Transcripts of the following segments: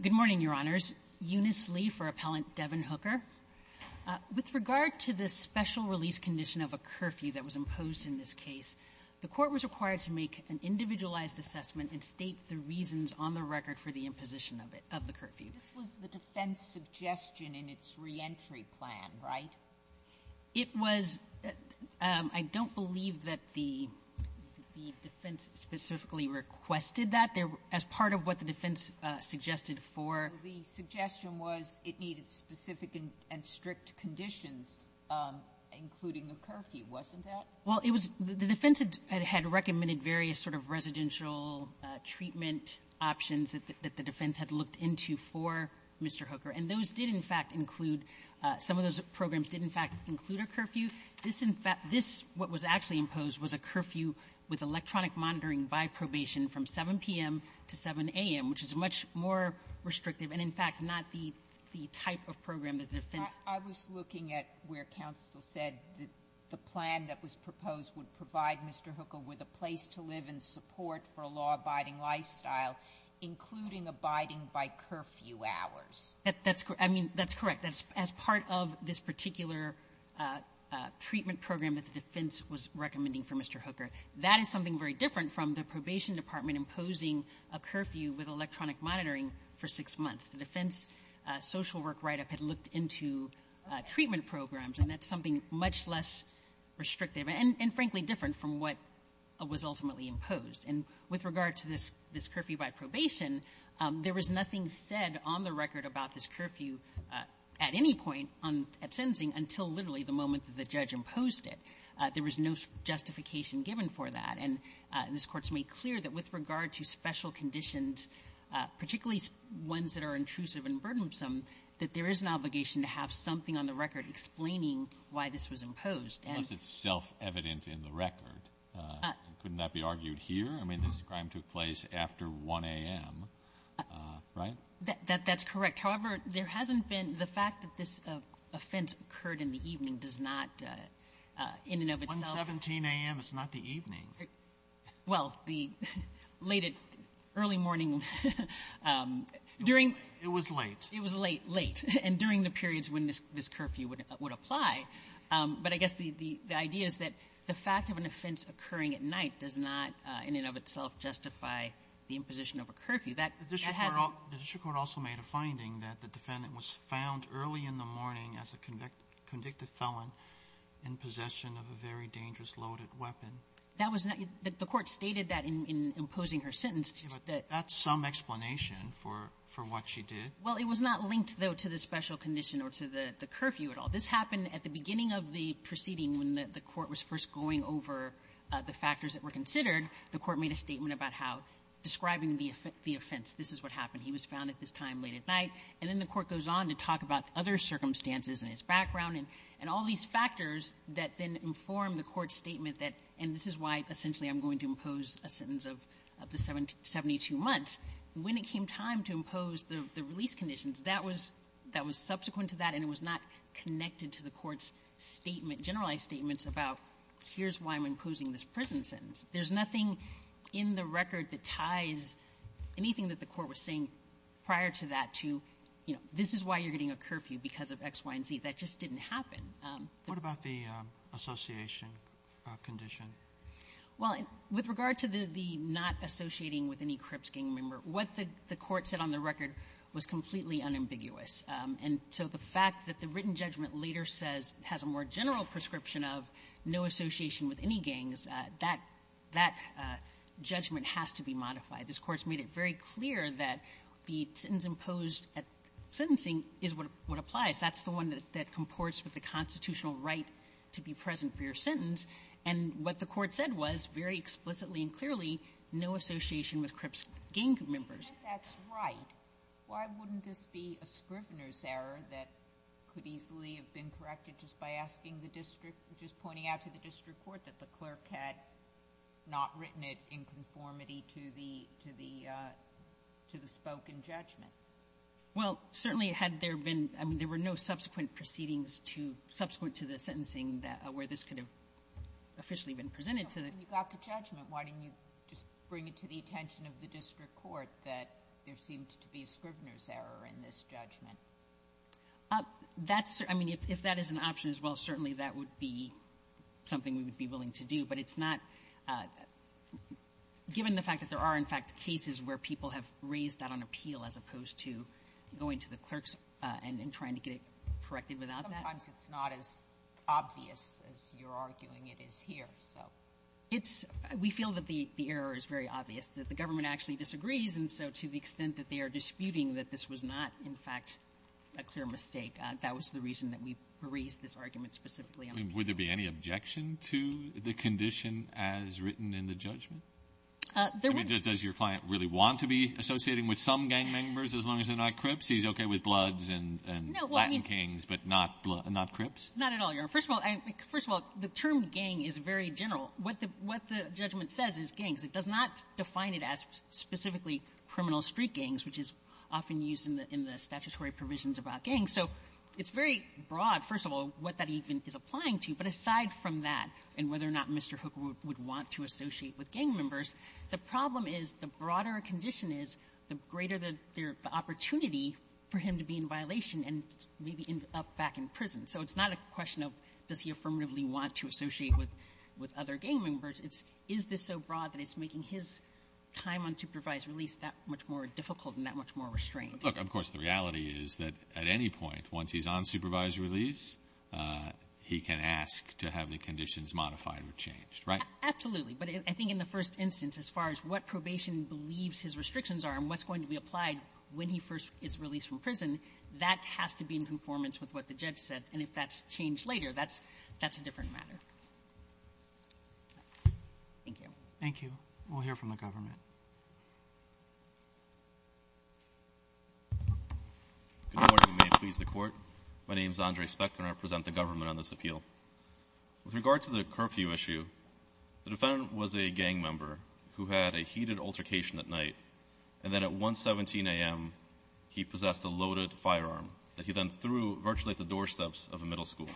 Good morning, Your Honors. This is Eunice Lee for Appellant Devin Hooker. With regard to the special release condition of a curfew that was imposed in this case, the Court was required to make an individualized assessment and state the reasons on the record for the imposition of it, of the curfew. This was the defense suggestion in its reentry plan, right? It was — I don't believe that the defense specifically requested that. There — as part of what the defense suggested for — The suggestion was it needed specific and strict conditions, including a curfew. Wasn't that — Well, it was — the defense had recommended various sort of residential treatment options that the defense had looked into for Mr. Hooker. And those did, in fact, include — some of those programs did, in fact, include a curfew. This, in fact — this, what was actually imposed, was a curfew with electronic monitoring by probation from 7 p.m. to 7 a.m., which is much more restrictive and, in fact, not the — the type of program that the defense — I was looking at where counsel said that the plan that was proposed would provide Mr. Hooker with a place to live and support for a law-abiding lifestyle, including abiding by curfew hours. That's — I mean, that's correct. That's — as part of this particular treatment program that the defense was recommending for Mr. Hooker, that is something very different from the probation department imposing a curfew with electronic monitoring for six months. The defense social work write-up had looked into treatment programs, and that's something much less restrictive and, frankly, different from what was ultimately imposed. And with regard to this — this curfew by probation, there was nothing said on the record about this curfew at any point on — at sentencing until literally the moment that the judge imposed it. There was no justification given for that. And this Court's made clear that with regard to special conditions, particularly ones that are intrusive and burdensome, that there is an obligation to have something on the record explaining why this was imposed. And — Unless it's self-evident in the record. Couldn't that be argued here? I mean, this crime took place after 1 a.m., right? That — that's correct. However, there hasn't been — the fact that this offense occurred in the evening does not, in and of itself — 117 a.m. is not the evening. Well, the late — early morning — during — It was late. It was late, late, and during the periods when this — this curfew would apply. But I guess the — the idea is that the fact of an offense occurring at night does not, in and of itself, justify the imposition of a curfew. That — that hasn't — The district court also made a finding that the defendant was found early in the morning as a convicted — convicted felon in possession of a very dangerous loaded weapon. That was not — the court stated that in — in imposing her sentence, that — But that's some explanation for — for what she did. Well, it was not linked, though, to the special condition or to the — the curfew at all. This happened at the beginning of the proceeding when the court was first going over the factors that were considered. The court made a statement about how — describing the — the offense. This is what happened. He was found at this time late at night. And then the court goes on to talk about other circumstances and his background and — and all these factors that then inform the court's statement that — and this is why, essentially, I'm going to impose a sentence of the 72 months. When it came time to impose the — the release conditions, that was — that was subsequent to that, and it was not connected to the court's statement — generalized statements about here's why I'm imposing this prison sentence. There's nothing in the record that ties anything that the court was saying prior to that to, you know, this is why you're getting a curfew because of X, Y, and Z. That just didn't happen. What about the association condition? Well, with regard to the — the not associating with any Crips gang member, what the — the court said on the record was completely unambiguous. And so the fact that the written judgment later says — has a more general prescription of no association with any gangs, that — that judgment has to be modified. This Court's made it very clear that the sentence imposed at sentencing is what — what applies. That's the one that — that comports with the constitutional right to be present for your sentence. And what the Court said was, very explicitly and clearly, no association with Crips gang members. If that's right, why wouldn't this be a Scrivener's error that could easily have been corrected just by asking the district — just pointing out to the district court that the clerk had not written it in conformity to the — to the — to the spoken judgment? Well, certainly, had there been — I mean, there were no subsequent proceedings to — subsequent to the sentencing that — where this could have officially been presented to the — You got the judgment. Why didn't you just bring it to the attention of the district court that there seemed to be a Scrivener's error in this judgment? That's — I mean, if that is an option as well, certainly that would be something we would be willing to do. But it's not — given the fact that there are, in fact, cases where people have raised that on appeal as opposed to going to the clerks and trying to get it corrected without that. Sometimes it's not as obvious as you're arguing it is here, so. It's — we feel that the — the error is very obvious, that the government actually disagrees, and so to the extent that they are disputing that this was not, in fact, a clear mistake, that was the reason that we raised this argument specifically Would there be any objection to the condition as written in the judgment? I mean, does your client really want to be associating with some gang members as long as they're not Crips? He's okay with Bloods and Latin Kings, but not — not Crips? Not at all, Your Honor. First of all, I — first of all, the term gang is very general. What the — what the judgment says is gangs. It does not define it as specifically criminal street gangs, which is often used in the — in the statutory provisions about gangs. So it's very broad, first of all, what that even is applying to. But aside from that, and whether or not Mr. Hook would want to associate with gang members, the problem is the broader a condition is, the greater the — the opportunity for him to be in violation and maybe end up back in prison. So it's not a question of does he affirmatively want to associate with — with other gang members. It's is this so broad that it's making his time on supervised release that much more difficult and that much more restrained? Look, of course, the reality is that at any point, once he's on supervised release, he can ask to have the conditions modified or changed, right? Absolutely. But I think in the first instance, as far as what probation believes his restrictions are and what's going to be applied when he first is released from prison, that has to be in conformance with what the judge said. And if that's changed later, that's — that's a different matter. Thank you. Thank you. We'll hear from the government. Good morning, and may it please the Court. My name is Andre Spector, and I present the government on this appeal. With regard to the curfew issue, the defendant was a gang member who had a heated altercation at night, and then at 1.17 a.m., he possessed a loaded firearm that he then threw virtually at the doorsteps of a middle school.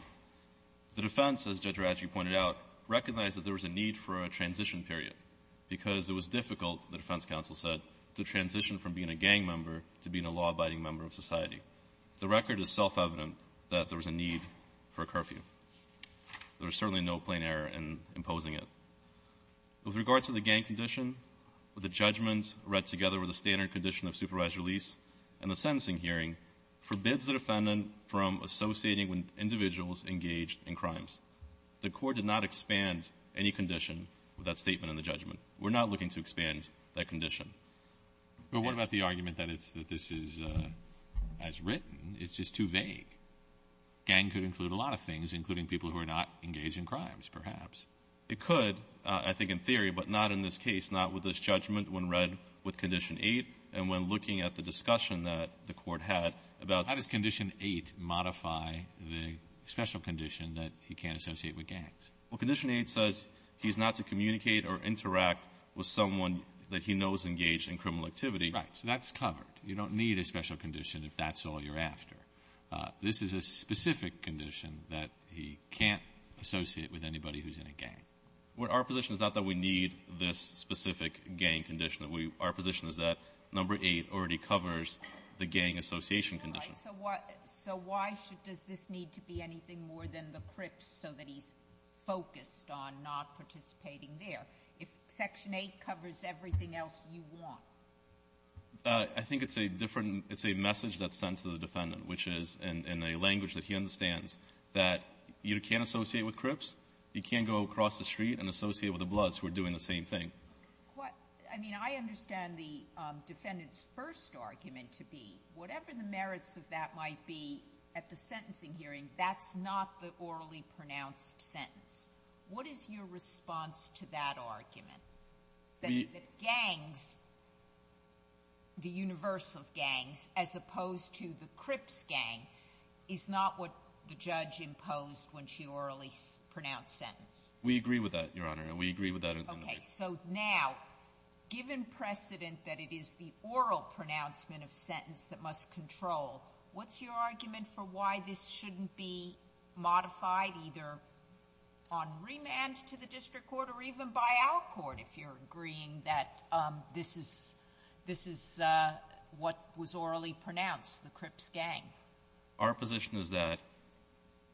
The defense, as Judge Radji pointed out, recognized that there was a need for a transition period because it was difficult, the defense counsel said, to transition from being a gang member to being a law-abiding member of society. The record is self-evident that there was a need for a curfew. There was certainly no plain error in imposing it. With regard to the gang condition, the judgments read together were the standard condition of supervised release, and the sentencing hearing forbids the defendant from associating with individuals engaged in crimes. The Court did not expand any condition with that statement in the judgment. We're not looking to expand that condition. But what about the argument that it's, that this is, as written, it's just too vague? Gang could include a lot of things, including people who are not engaged in crimes, perhaps. It could, I think in theory, but not in this case, not with this judgment when read with Condition 8, and when looking at the discussion that the Court had about How does Condition 8 modify the special condition that he can't associate with gangs? Well, Condition 8 says he's not to communicate or interact with someone that he knows is engaged in criminal activity. Right. So that's covered. You don't need a special condition if that's all you're after. This is a specific condition that he can't associate with anybody who's in a gang. What our position is not that we need this specific gang condition. Our position is that Number 8 already covers the gang association condition. So why should, does this need to be anything more than the crips so that he's focused on not participating there? If Section 8 covers everything else you want. I think it's a different, it's a message that's sent to the defendant, which is in a language that he understands that you can't associate with crips, you can't go across the street and associate with the bloods who are doing the same thing. I mean, I understand the defendant's first argument to be whatever the merits of that might be at the sentencing hearing, that's not the orally pronounced sentence. What is your response to that argument? That gangs, the universe of gangs, as opposed to the crips gang, is not what the judge imposed when she orally pronounced sentence? We agree with that, Your Honor. And we agree with that. Okay. So now, given precedent that it is the oral pronouncement of sentence that must control, what's your argument for why this shouldn't be modified either on remand to the district court or even by our court, if you're agreeing that this is what was orally pronounced, the crips gang? Our position is that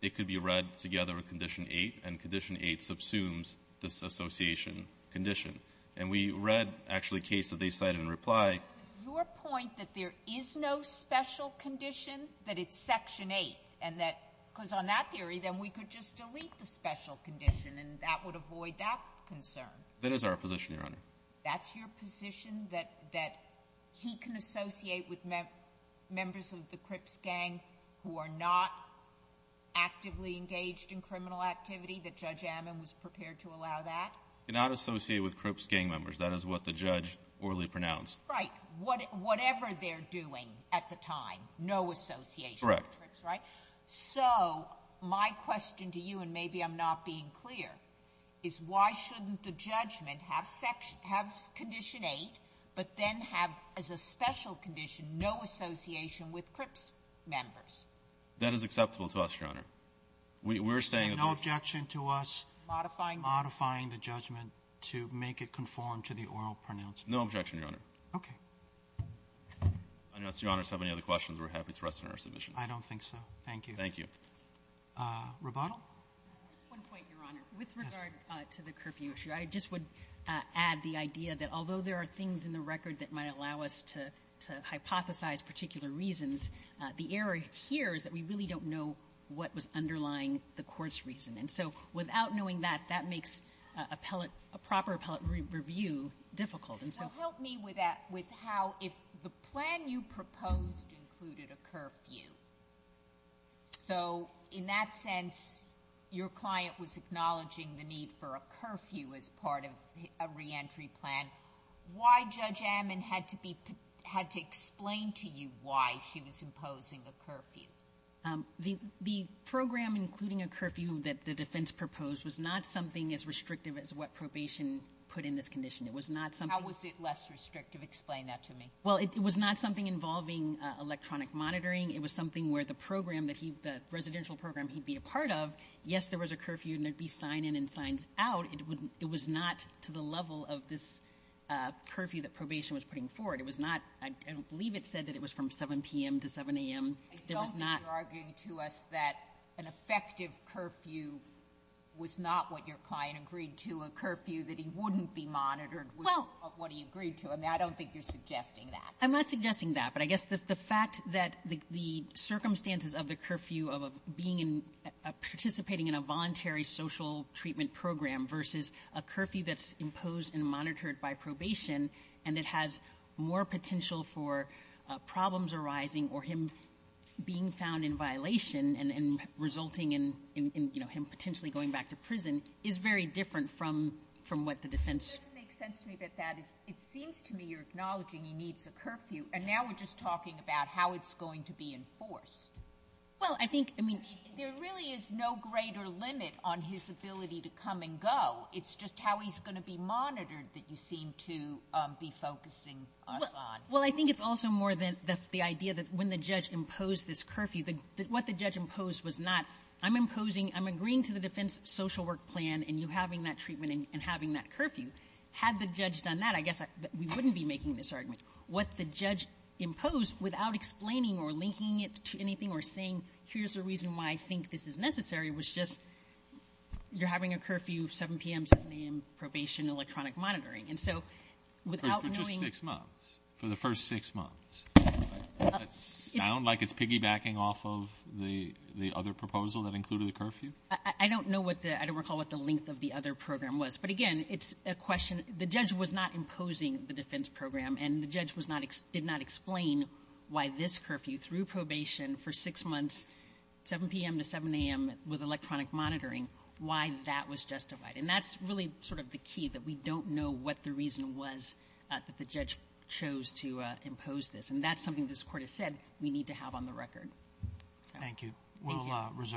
it could be read together with Condition 8, and Condition 8 subsumes this association condition. And we read, actually, a case that they cited in reply. So is your point that there is no special condition, that it's Section 8, and that because on that theory, then we could just delete the special condition, and that would avoid that concern? That is our position, Your Honor. That's your position, that he can associate with members of the crips gang who are not actively engaged in criminal activity, that Judge Ammon was prepared to allow that? He cannot associate with crips gang members. That is what the judge orally pronounced. Right. Whatever they're doing at the time, no association with crips, right? Correct. So my question to you, and maybe I'm not being clear, is why shouldn't the judgment have Condition 8, but then have as a special condition, no association with crips members? That is acceptable to us, Your Honor. We're saying that the – And no objection to us – Modifying? Modifying the judgment to make it conform to the oral pronouncement? No objection, Your Honor. Okay. I don't see Your Honor have any other questions. We're happy to rest on our submission. I don't think so. Thank you. Thank you. Roboto? Just one point, Your Honor. Yes. With regard to the curfew issue, I just would add the idea that although there are things in the record that might allow us to hypothesize particular reasons, the error here is that we really don't know what was underlying the court's reason. And so without knowing that, that makes appellate – a proper appellate review difficult. Well, help me with that, with how – if the plan you proposed included a curfew, so in that sense, your client was acknowledging the need for a curfew as part of a reentry plan, why Judge Ammon had to be – had to explain to you why she was imposing a curfew? The program including a curfew that the defense proposed was not something as restrictive as what probation put in this condition. It was not something – How was it less restrictive? Explain that to me. Well, it was not something involving electronic monitoring. It was something where the program that he – the residential program he'd be a part of, yes, there was a curfew and there'd be sign-in and sign-out. It would – it was not to the level of this curfew that probation was putting forward. It was not – I don't believe it said that it was from 7 p.m. to 7 a.m. There was not – I don't think you're arguing to us that an effective curfew was not what your client agreed to, a curfew that he wouldn't be monitored was what he agreed to. I mean, I don't think you're suggesting that. I'm not suggesting that. But I guess the fact that the circumstances of the curfew of being in – participating in a voluntary social treatment program versus a curfew that's imposed and monitored by probation and it has more potential for problems arising or him being found in violation and resulting in, you know, him potentially going back to prison is very different from what the defense – It doesn't make sense to me that that is – it seems to me you're acknowledging he needs a curfew, and now we're just talking about how it's going to be enforced. Well, I think – I mean, there really is no greater limit on his ability to come and go. It's just how he's going to be monitored that you seem to be focusing us on. Well, I think it's also more than the idea that when the judge imposed this curfew that what the judge imposed was not, I'm imposing – I'm agreeing to the defense social work plan and you having that treatment and having that curfew. Had the judge done that, I guess we wouldn't be making this argument. What the judge imposed, without explaining or linking it to anything or saying here's the reason why I think this is necessary, was just you're having a curfew 7 p.m., 7 a.m., probation, electronic monitoring. And so without knowing – But for just six months. For the first six months. Does it sound like it's piggybacking off of the other proposal that included the curfew? I don't know what the – I don't recall what the length of the other program was. But again, it's a question – the judge was not imposing the defense program, and the judge was not – did not explain why this curfew through probation for six months, 7 p.m. to 7 a.m. with electronic monitoring, why that was justified. And that's really sort of the key, that we don't know what the reason was that the judge chose to impose this. And that's something this court has said we need to have on the record. Thank you. We'll reserve.